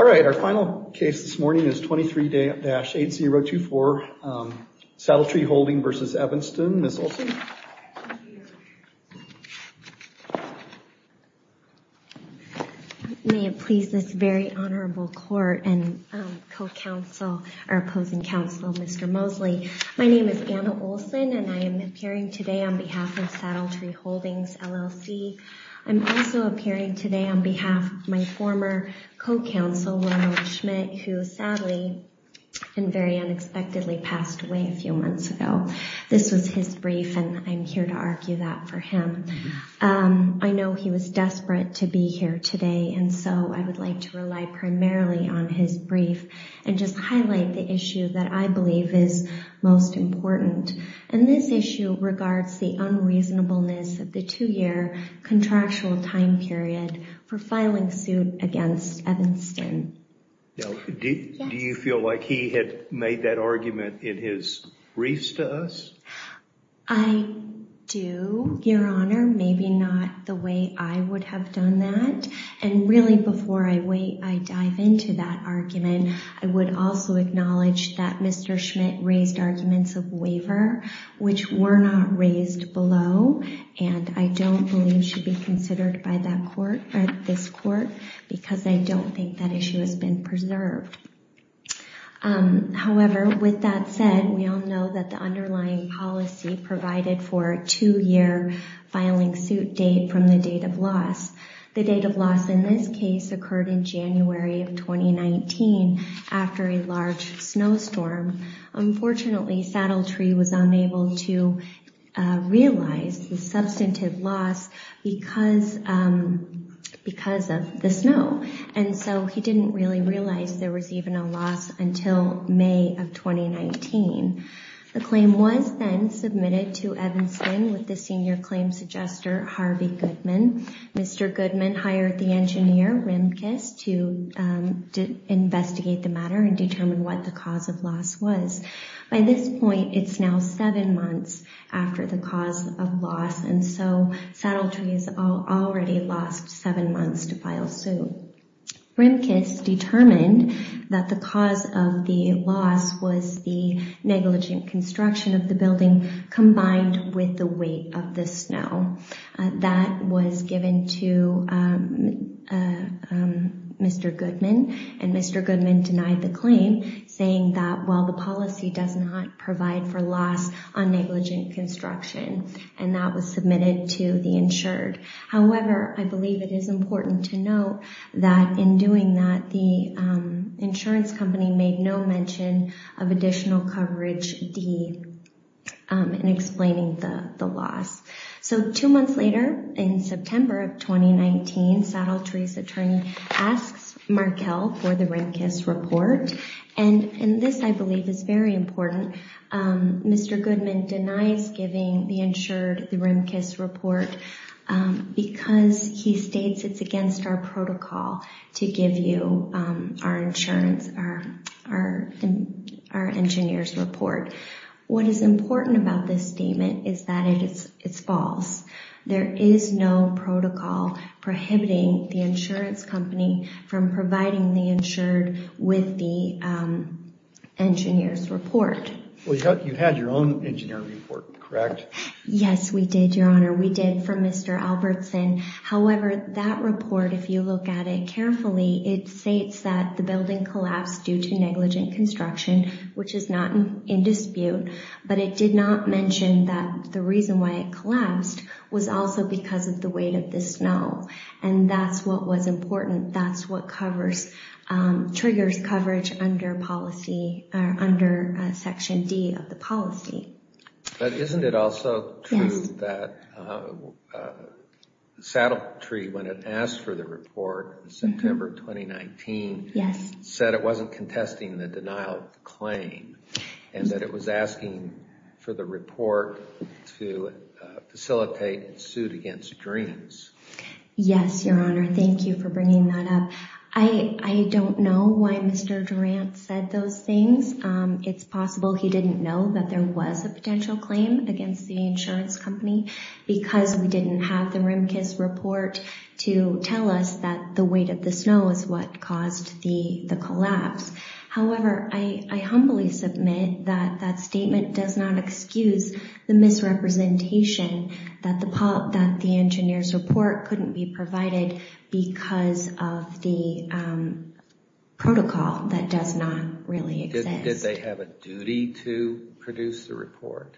All right, our final case this morning is 23-8024 Saddletree Holding v. Evanston, Ms. Olson. May it please this very honorable court and co-counsel, or opposing counsel, Mr. Mosley. My name is Anna Olson and I am appearing today on behalf of Saddletree Holdings, LLC. I'm also appearing today on behalf of my former co-counsel, Ronald Schmidt, who sadly and very unexpectedly passed away a few months ago. This was his brief and I'm here to argue that for him. I know he was desperate to be here today and so I would like to rely primarily on his brief and just highlight the issue that I believe is most important. And this issue regards the unreasonableness of the two-year contractual time period for filing suit against Evanston. Do you feel like he had made that argument in his briefs to us? I do, Your Honor. Maybe not the way I would have done that. And really before I dive into that argument, I would also acknowledge that Mr. Schmidt raised arguments of waiver, which were not raised below. And I don't believe should be considered by this court because I don't think that issue has been preserved. However, with that said, we all know that the underlying policy provided for a two-year filing suit date from the date of loss. The date of loss in this case occurred in January of 2019 after a large snowstorm. Unfortunately, Saddletree was unable to realize the substantive loss because of the snow. And so he didn't really realize there was even a loss until May of 2019. The claim was then submitted to Evanston with the senior claim suggester, Harvey Goodman. Mr. Goodman hired the engineer, Rimkus, to investigate the matter and determine what the cause of loss was. By this point, it's now seven months after the cause of loss, and so Saddletree has already lost seven months to file suit. Rimkus determined that the cause of the loss was the negligent construction of the building combined with the weight of the snow. That was given to Mr. Goodman, and Mr. Goodman denied the claim, saying that while the policy does not provide for loss on negligent construction. And that was submitted to the insured. However, I believe it is important to note that in doing that, the insurance company made no mention of additional coverage in explaining the loss. So two months later in September of 2019, Saddletree's attorney asks Markel for the Rimkus report. And this, I believe, is very important. Mr. Goodman denies giving the insured the Rimkus report because he states it's against our protocol to give you our engineer's report. What is important about this statement is that it's false. There is no protocol prohibiting the insurance company from providing the insured with the engineer's report. Well, you had your own engineer report, correct? Yes, we did, Your Honor. We did, from Mr. Albertson. However, that report, if you look at it carefully, it states that the building collapsed due to negligent construction, which is not in dispute. But it did not mention that the reason why it collapsed was also because of the weight of the snow. And that's what was important. That's what triggers coverage under Section D of the policy. But isn't it also true that Saddletree, when it asked for the report in September 2019, said it wasn't contesting the denial claim and that it was asking for the report to facilitate a suit against Dreams? Yes, Your Honor. Thank you for bringing that up. I don't know why Mr. Durant said those things. It's possible he didn't know that there was a potential claim against the insurance company because we didn't have the Rimkus report to tell us that the weight of the snow is what caused the collapse. However, I humbly submit that that statement does not excuse the misrepresentation that the engineer's report couldn't be provided because of the protocol that does not really exist. Did they have a duty to produce the report?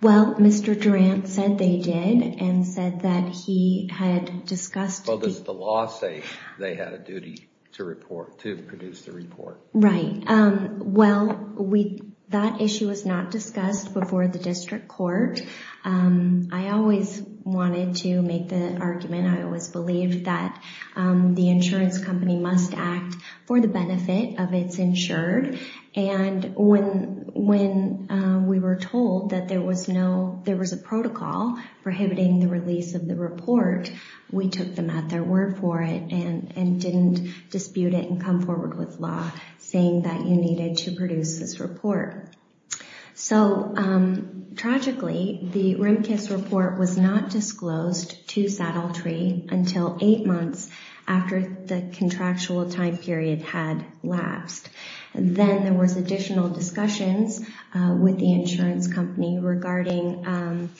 Well, Mr. Durant said they did and said that he had discussed... So does the law say they had a duty to produce the report? Right. Well, that issue was not discussed before the district court. I always wanted to make the argument, I always believed, that the insurance company must act for the benefit of its insured. And when we were told that there was a protocol prohibiting the release of the report, we took them at their word for it and didn't dispute it and come forward with law saying that you needed to produce this report. So, tragically, the Rimkus report was not disclosed to Saddle Tree until eight months after the contractual time period had lapsed. Then there was additional discussions with the insurance company regarding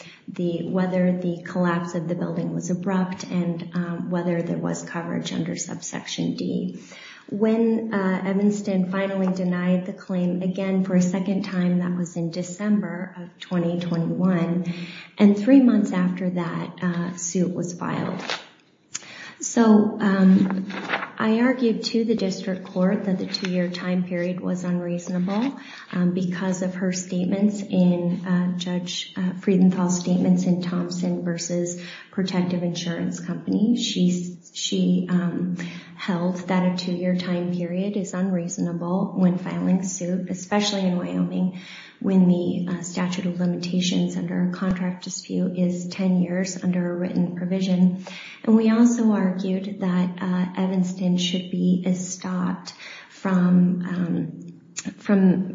whether the collapse of the building was abrupt and whether there was coverage under subsection D. When Evanston finally denied the claim again for a second time, that was in December of 2021, and three months after that, a suit was filed. So, I argued to the district court that the two-year time period was unreasonable because of her statements in Judge Friedenthal's statements in Thompson v. Protective Insurance Company. She held that a two-year time period is unreasonable when filing a suit, and we also argued that Evanston should be stopped from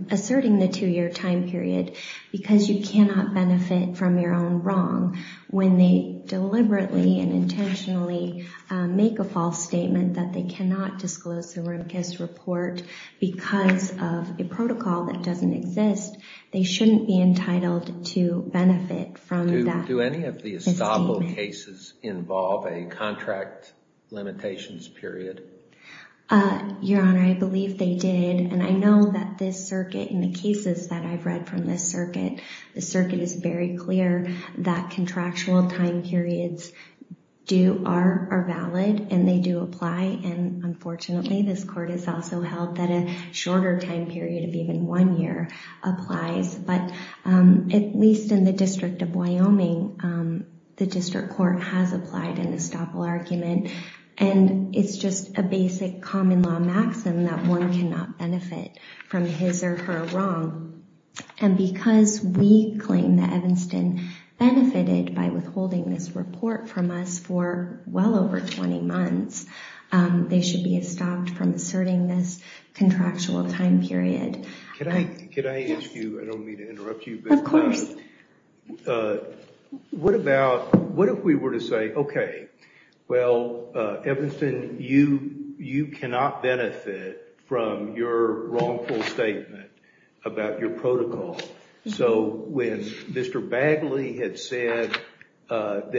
asserting the two-year time period because you cannot benefit from your own wrong. When they deliberately and intentionally make a false statement that they cannot disclose the Rimkus report because of a protocol that doesn't exist, they shouldn't be entitled to benefit from that. Do any of the Estoppel cases involve a contract limitations period? Your Honor, I believe they did, and I know that this circuit, in the cases that I've read from this circuit, the circuit is very clear that contractual time periods are valid and they do apply, and unfortunately, this court has also held that a shorter time period of even one year applies. But at least in the District of Wyoming, the district court has applied an Estoppel argument, and it's just a basic common law maxim that one cannot benefit from his or her wrong. And because we claim that Evanston benefited by withholding this report from us for well over 20 months, they should be stopped from asserting this contractual time period. Can I ask you, I don't mean to interrupt you, but what if we were to say, okay, well, Evanston, you cannot benefit from your wrongful statement about your protocol. So when Mr. Bagley had said that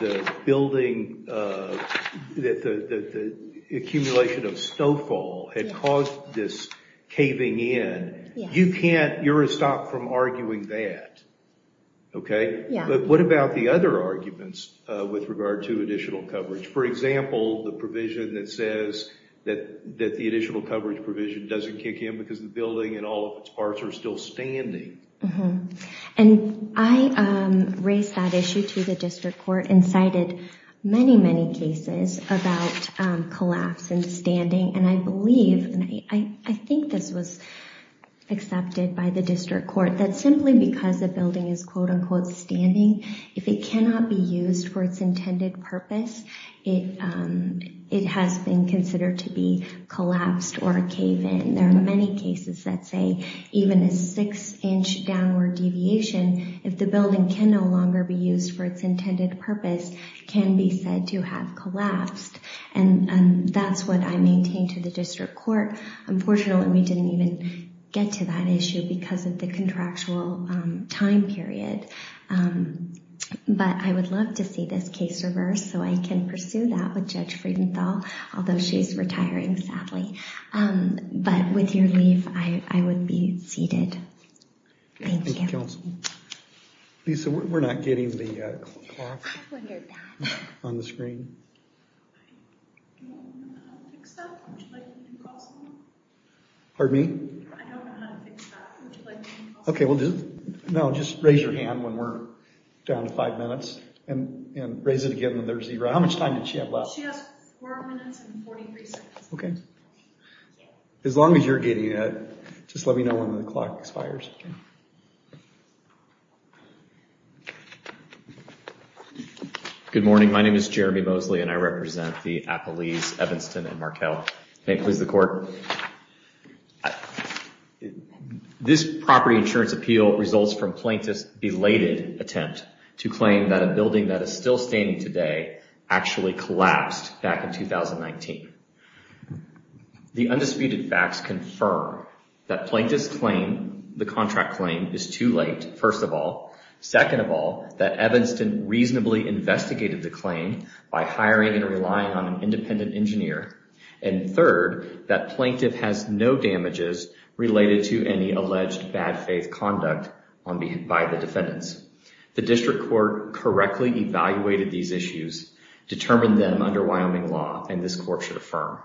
the building, that the accumulation of stofol had caused this caving in, you can't, you're to stop from arguing that, okay? But what about the other arguments with regard to additional coverage? For example, the provision that says that the additional coverage provision doesn't kick in because the building and all of its parts are still standing. And I raised that issue to the district court and cited many, many cases about collapse and standing. And I believe, and I think this was accepted by the district court, that simply because a building is, quote, unquote, standing, if it cannot be used for its intended purpose, it has been considered to be collapsed or a cave-in. And there are many cases that say even a six-inch downward deviation, if the building can no longer be used for its intended purpose, can be said to have collapsed. And that's what I maintain to the district court. Unfortunately, we didn't even get to that issue because of the contractual time period. But I would love to see this case reversed so I can pursue that with Judge Friedenthal, although she's retiring, sadly. But with your leave, I would be seated. Thank you. Lisa, we're not getting the clock on the screen. I don't know how to fix that. Would you like me to call someone? Pardon me? I don't know how to fix that. Would you like me to call someone? Okay, well, just raise your hand when we're down to five minutes and raise it again when there's zero. How much time did she have left? She has four minutes and 43 seconds. Okay. As long as you're getting it, just let me know when the clock expires. Okay. Good morning. My name is Jeremy Mosley, and I represent the Appalese, Evanston, and Markell. May it please the Court. This property insurance appeal results from plaintiff's belated attempt to claim that a building that is still standing today actually collapsed back in 2019. The undisputed facts confirm that plaintiff's claim, the contract claim, is too late, first of all. Second of all, that Evanston reasonably investigated the claim by hiring and relying on an independent engineer. And third, that plaintiff has no damages related to any alleged bad faith conduct by the defendants. The District Court correctly evaluated these issues, determined them under Wyoming law, and this Court should affirm.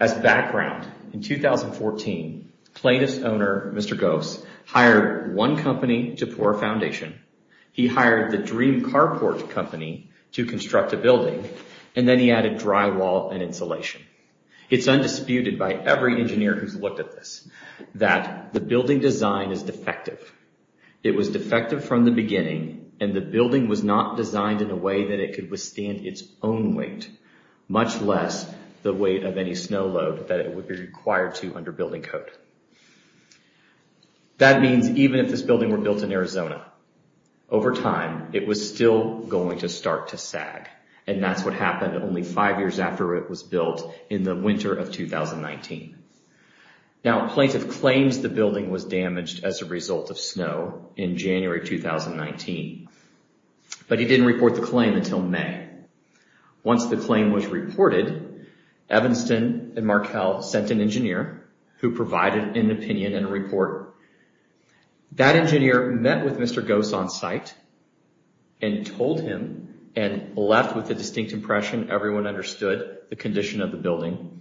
As background, in 2014, plaintiff's owner, Mr. Gose, hired one company to pour a foundation. He hired the Dream Carport Company to construct a building, and then he added drywall and insulation. It's undisputed by every engineer who's looked at this that the building design is defective. It was defective from the beginning, and the building was not designed in a way that it could withstand its own weight, much less the weight of any snow load that it would be required to under building code. That means even if this building were built in Arizona, over time, it was still going to start to sag, and that's what happened only five years after it was built in the winter of 2019. Now, plaintiff claims the building was damaged as a result of snow in January 2019, but he didn't report the claim until May. Once the claim was reported, Evanston and Markell sent an engineer who provided an opinion and a report. That engineer met with Mr. Gose on site and told him and left with a distinct impression. Everyone understood the condition of the building,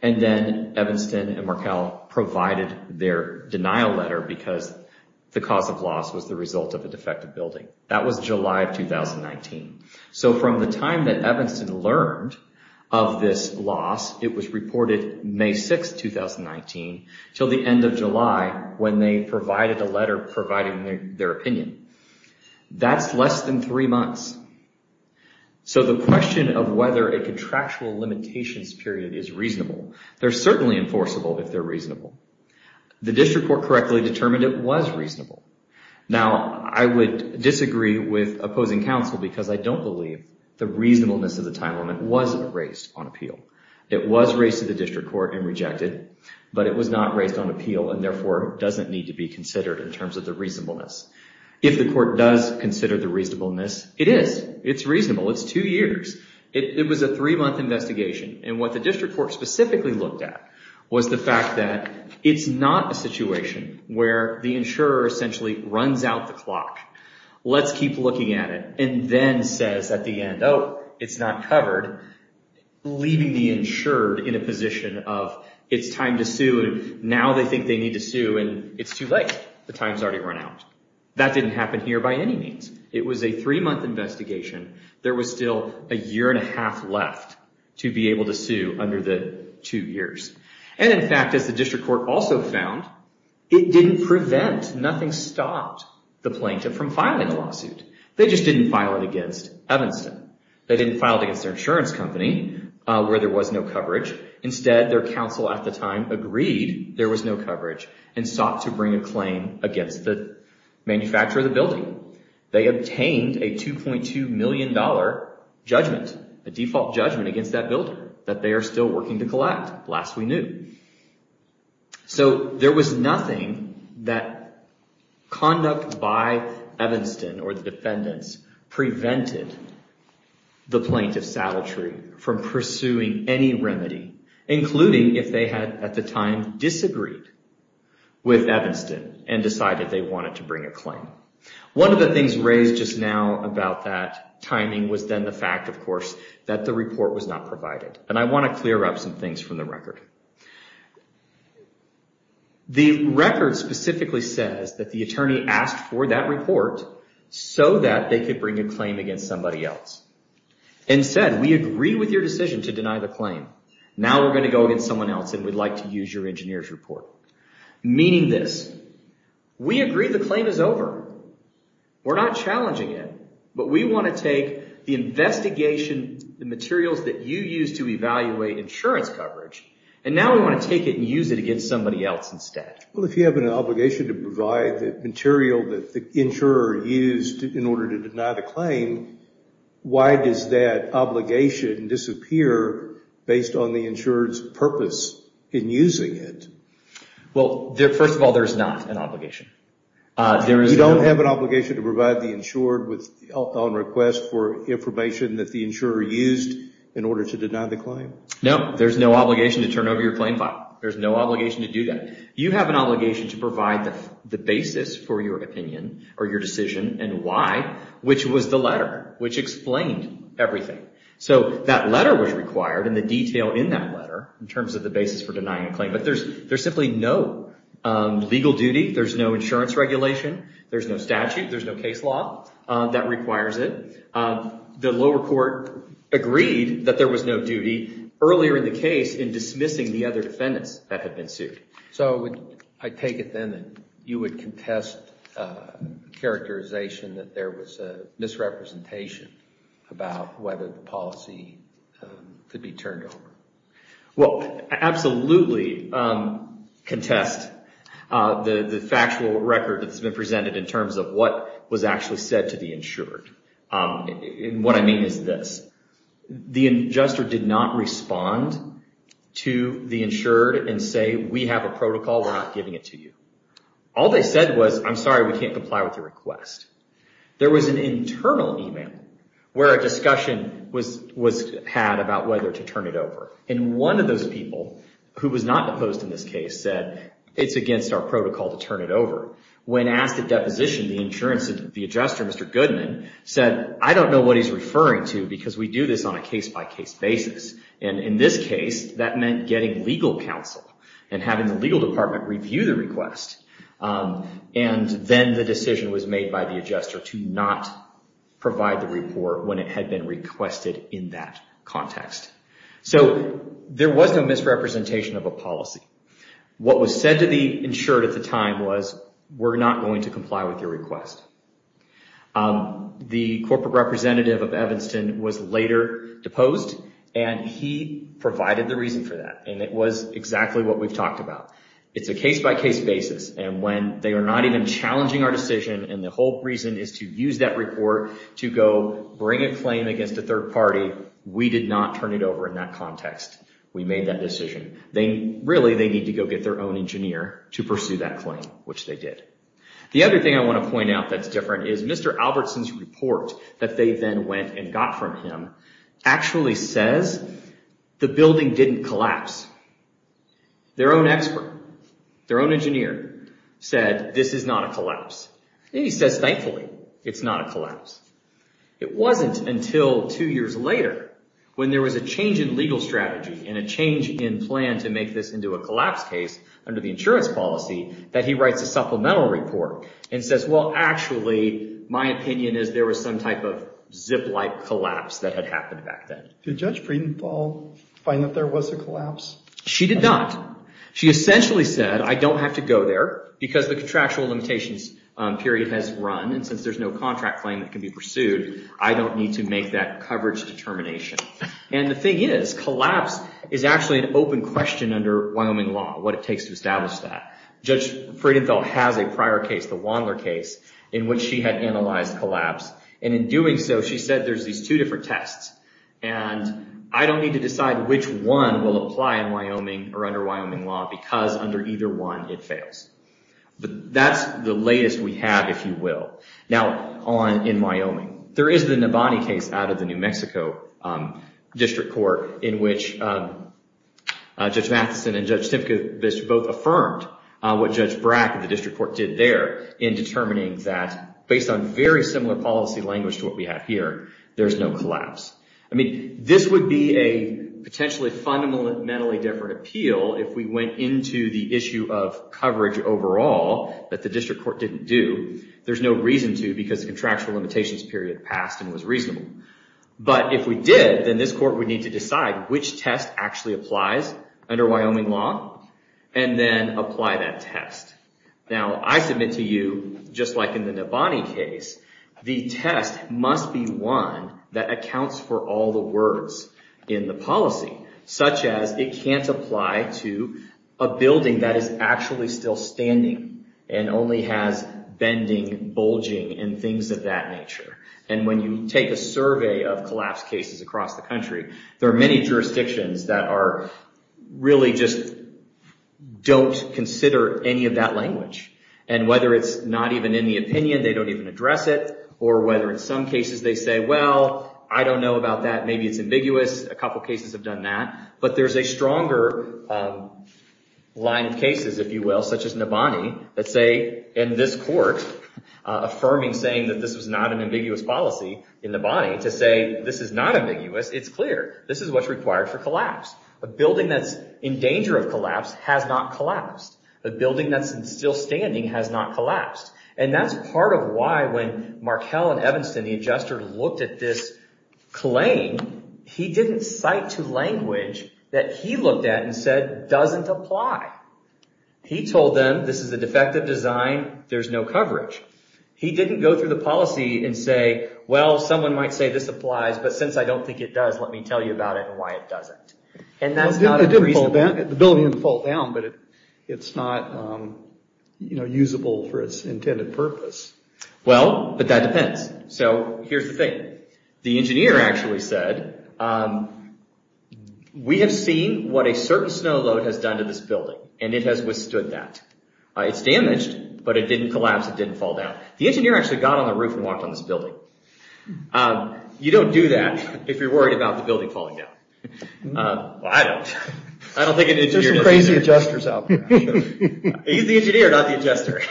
and then Evanston and Markell provided their denial letter because the cause of loss was the result of a defective building. That was July of 2019. So from the time that Evanston learned of this loss, it was reported May 6, 2019, until the end of July when they provided a letter providing their opinion. That's less than three months. So the question of whether a contractual limitations period is reasonable, they're certainly enforceable if they're reasonable. The district court correctly determined it was reasonable. Now, I would disagree with opposing counsel because I don't believe the reasonableness of the time limit was raised on appeal. It was raised to the district court and rejected, but it was not raised on appeal and therefore doesn't need to be considered in terms of the reasonableness. If the court does consider the reasonableness, it is. It's reasonable. It's two years. It was a three-month investigation, and what the district court specifically looked at was the fact that it's not a situation where the insurer essentially runs out the clock, let's keep looking at it, and then says at the end, oh, it's not covered, leaving the insured in a position of it's time to sue, and now they think they need to sue, and it's too late. The time's already run out. That didn't happen here by any means. It was a three-month investigation. There was still a year and a half left to be able to sue under the two years, and in fact, as the district court also found, it didn't prevent, nothing stopped the plaintiff from filing the lawsuit. They just didn't file it against Evanston. They didn't file it against their insurance company where there was no coverage. Instead, their counsel at the time agreed there was no coverage and sought to bring a claim against the manufacturer of the building. They obtained a $2.2 million judgment, a default judgment against that builder that they are still working to collect. Last we knew. So there was nothing that conduct by Evanston or the defendants prevented the plaintiff, Saddletree, from pursuing any remedy, including if they had at the time disagreed with Evanston and decided they wanted to bring a claim. One of the things raised just now about that timing was then the fact, of course, that the report was not provided, and I want to clear up some things from the record. The record specifically says that the attorney asked for that report so that they could bring a claim against somebody else and said, we agree with your decision to deny the claim. Now we're going to go against someone else and we'd like to use your engineer's report, meaning this, we agree the claim is over. We're not challenging it, but we want to take the investigation, the materials that you used to evaluate insurance coverage, and now we want to take it and use it against somebody else instead. Well, if you have an obligation to provide the material that the insurer used in order to deny the claim, why does that obligation disappear based on the insurer's purpose in using it? Well, first of all, there's not an obligation. You don't have an obligation to provide the insured with on request for information that the insurer used in order to deny the claim? No, there's no obligation to turn over your claim file. There's no obligation to do that. You have an obligation to provide the basis for your opinion or your decision and why, which was the letter, which explained everything. So that letter was required and the detail in that letter, in terms of the basis for denying a claim, but there's simply no legal duty. There's no insurance regulation. There's no statute. There's no case law that requires it. The lower court agreed that there was no duty earlier in the case in dismissing the other defendants that had been sued. So I take it then that you would contest characterization that there was a misrepresentation about whether the policy could be turned over? Well, absolutely contest the factual record that's been presented in terms of what was actually said to the insured. And what I mean is this. The adjuster did not respond to the insured and say, we have a protocol, we're not giving it to you. All they said was, I'm sorry, we can't comply with your request. There was an internal email where a discussion was had about whether to turn it over. And one of those people, who was not opposed in this case, said it's against our protocol to turn it over. When asked at deposition, the adjuster, Mr. Goodman, said, I don't know what he's referring to because we do this on a case-by-case basis. And in this case, that meant getting legal counsel and having the legal department review the request. And then the decision was made by the adjuster to not provide the report when it had been requested in that context. So there was no misrepresentation of a policy. What was said to the insured at the time was, we're not going to comply with your request. The corporate representative of Evanston was later deposed and he provided the reason for that. And it was exactly what we've talked about. It's a case-by-case basis. And when they are not even challenging our decision, and the whole reason is to use that report to go bring a claim against a third party, we did not turn it over in that context. We made that decision. Really, they need to go get their own engineer to pursue that claim, which they did. The other thing I want to point out that's different is Mr. Albertson's report that they then went and got from him actually says the building didn't collapse. Their own expert, their own engineer, said this is not a collapse. And he says, thankfully, it's not a collapse. It wasn't until two years later when there was a change in legal strategy and a change in plan to make this into a collapse case under the insurance policy that he writes a supplemental report and says, well, actually, my opinion is there was some type of zip-like collapse that had happened back then. Did Judge Friedenthal find that there was a collapse? She did not. She essentially said, I don't have to go there because the contractual limitations period has run, and since there's no contract claim that can be pursued, I don't need to make that coverage determination. And the thing is, collapse is actually an open question under Wyoming law, what it takes to establish that. Judge Friedenthal has a prior case, the Wandler case, in which she had analyzed collapse. And in doing so, she said there's these two different tests, and I don't need to decide which one will apply in Wyoming or under Wyoming law because under either one, it fails. But that's the latest we have, if you will. Now, in Wyoming, there is the Navani case out of the New Mexico District Court in which Judge Matheson and Judge Simkovich both affirmed what Judge Brack of the District Court did there in determining that, based on very similar policy language to what we have here, there's no collapse. I mean, this would be a potentially fundamentally different appeal if we went into the issue of coverage overall that the District Court didn't do. There's no reason to because the contractual limitations period passed and was reasonable. But if we did, then this court would need to decide which test actually applies under Wyoming law and then apply that test. Now, I submit to you, just like in the Navani case, the test must be one that accounts for all the words in the policy, such as it can't apply to a building that is actually still standing and only has bending, bulging, and things of that nature. And when you take a survey of collapse cases across the country, there are many jurisdictions that really just don't consider any of that language. And whether it's not even in the opinion, they don't even address it, or whether in some cases they say, well, I don't know about that, maybe it's ambiguous. A couple cases have done that. But there's a stronger line of cases, if you will, such as Navani, that say in this court, affirming saying that this was not an ambiguous policy in Navani, to say this is not ambiguous, it's clear. This is what's required for collapse. A building that's in danger of collapse has not collapsed. A building that's still standing has not collapsed. And that's part of why when Markell and Evanston, the adjuster, looked at this claim, he didn't cite to language that he looked at and said doesn't apply. He told them this is a defective design, there's no coverage. He didn't go through the policy and say, well, someone might say this applies, but since I don't think it does, let me tell you about it and why it doesn't. And that's not a reasonable... The building didn't fall down, but it's not usable for its intended purpose. Well, but that depends. So here's the thing. The engineer actually said, we have seen what a certain snow load has done to this building, and it has withstood that. It's damaged, but it didn't collapse, it didn't fall down. The engineer actually got on the roof and walked on this building. You don't do that if you're worried about the building falling down. Well, I don't. I don't think an engineer does that. There's some crazy adjusters out there. He's the engineer, not the adjuster.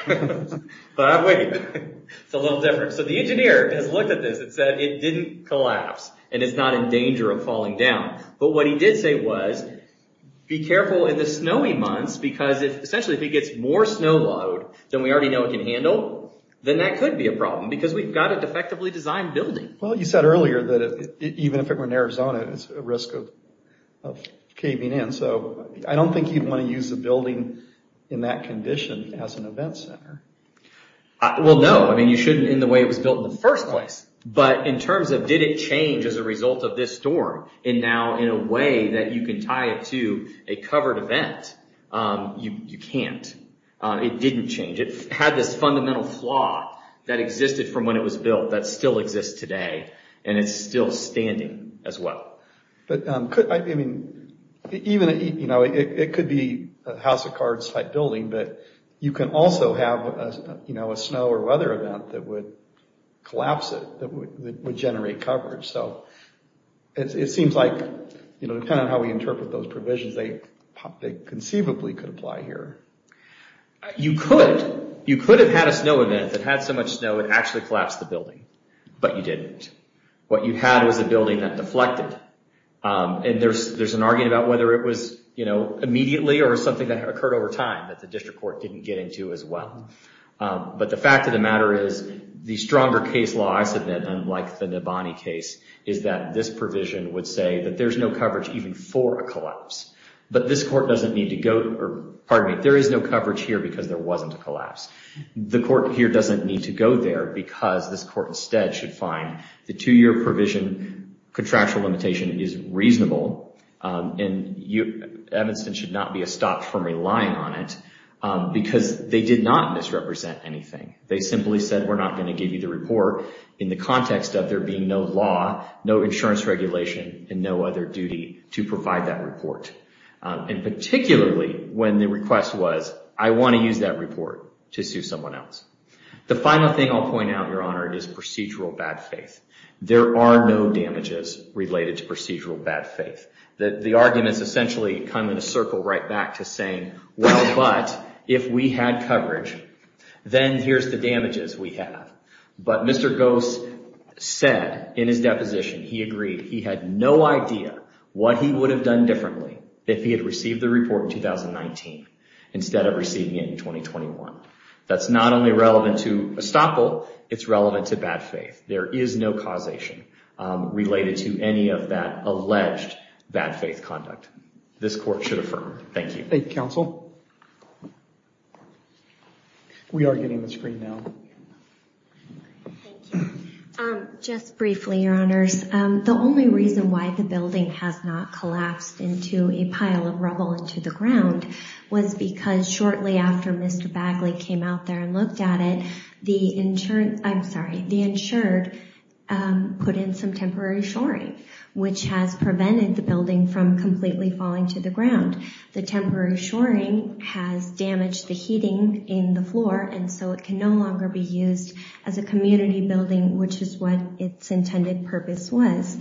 But wait, it's a little different. So the engineer has looked at this and said it didn't collapse, and it's not in danger of falling down. But what he did say was, be careful in the snowy months, because essentially if it gets more snow load than we already know it can handle, then that could be a problem, because we've got a defectively designed building. Well, you said earlier that even if it were in Arizona, it's at risk of caving in. So I don't think you'd want to use a building in that condition as an event center. Well, no. You shouldn't in the way it was built in the first place. But in terms of did it change as a result of this storm, and now in a way that you can tie it to a covered event, you can't. It didn't change. It had this fundamental flaw that existed from when it was built that still exists today, and it's still standing as well. It could be a house of cards type building, but you can also have a snow or weather event that would collapse it, that would generate coverage. So it seems like depending on how we interpret those provisions, they conceivably could apply here. You could. You could have had a snow event that had so much snow it actually collapsed the building, but you didn't. What you had was a building that deflected. And there's an argument about whether it was immediately or something that occurred over time that the district court didn't get into as well. But the fact of the matter is the stronger case law, I said that unlike the Nibani case, is that this provision would say that there's no coverage even for a collapse. But this court doesn't need to go to – pardon me, there is no coverage here because there wasn't a collapse. The court here doesn't need to go there because this court instead should find the two-year provision contractual limitation is reasonable and Evanston should not be stopped from relying on it because they did not misrepresent anything. They simply said we're not going to give you the report in the context of there being no law, no insurance regulation, and no other duty to provide that report. And particularly when the request was, I want to use that report to sue someone else. The final thing I'll point out, Your Honor, is procedural bad faith. There are no damages related to procedural bad faith. The arguments essentially come in a circle right back to saying, well, but if we had coverage, then here's the damages we have. But Mr. Gose said in his deposition, he agreed he had no idea what he would have done differently if he had received the report in 2019 instead of receiving it in 2021. That's not only relevant to estoppel, it's relevant to bad faith. There is no causation related to any of that alleged bad faith conduct. This court should affirm. Thank you. Thank you, counsel. We are getting the screen now. Just briefly, Your Honors, the only reason why the building has not collapsed into a pile of rubble into the ground was because shortly after Mr. Bagley came out there and looked at it, the insurance, I'm sorry, the insured put in some temporary shoring, which has prevented the building from completely falling to the ground. The temporary shoring has damaged the heating in the floor, and so it can no longer be used as a community building, which is what its intended purpose was.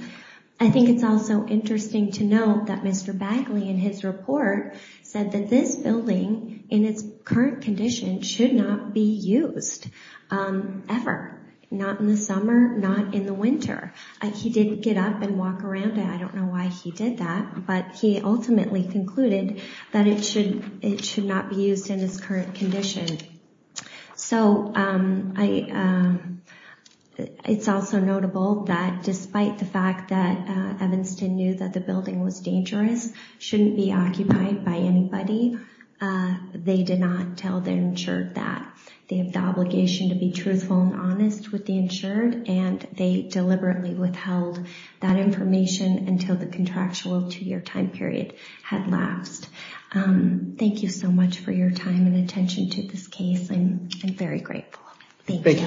I think it's also interesting to note that Mr. Bagley, in his report, said that this building, in its current condition, should not be used ever. Not in the summer, not in the winter. He didn't get up and walk around it. I don't know why he did that, but he ultimately concluded that it should not be used in its current condition. So it's also notable that despite the fact that Evanston knew that the building was dangerous, shouldn't be occupied by anybody, they did not tell the insured that. They have the obligation to be truthful and honest with the insured, and they deliberately withheld that information until the contractual two-year time period had lapsed. Thank you so much for your time and attention to this case. I'm very grateful. Thank you, Counsel.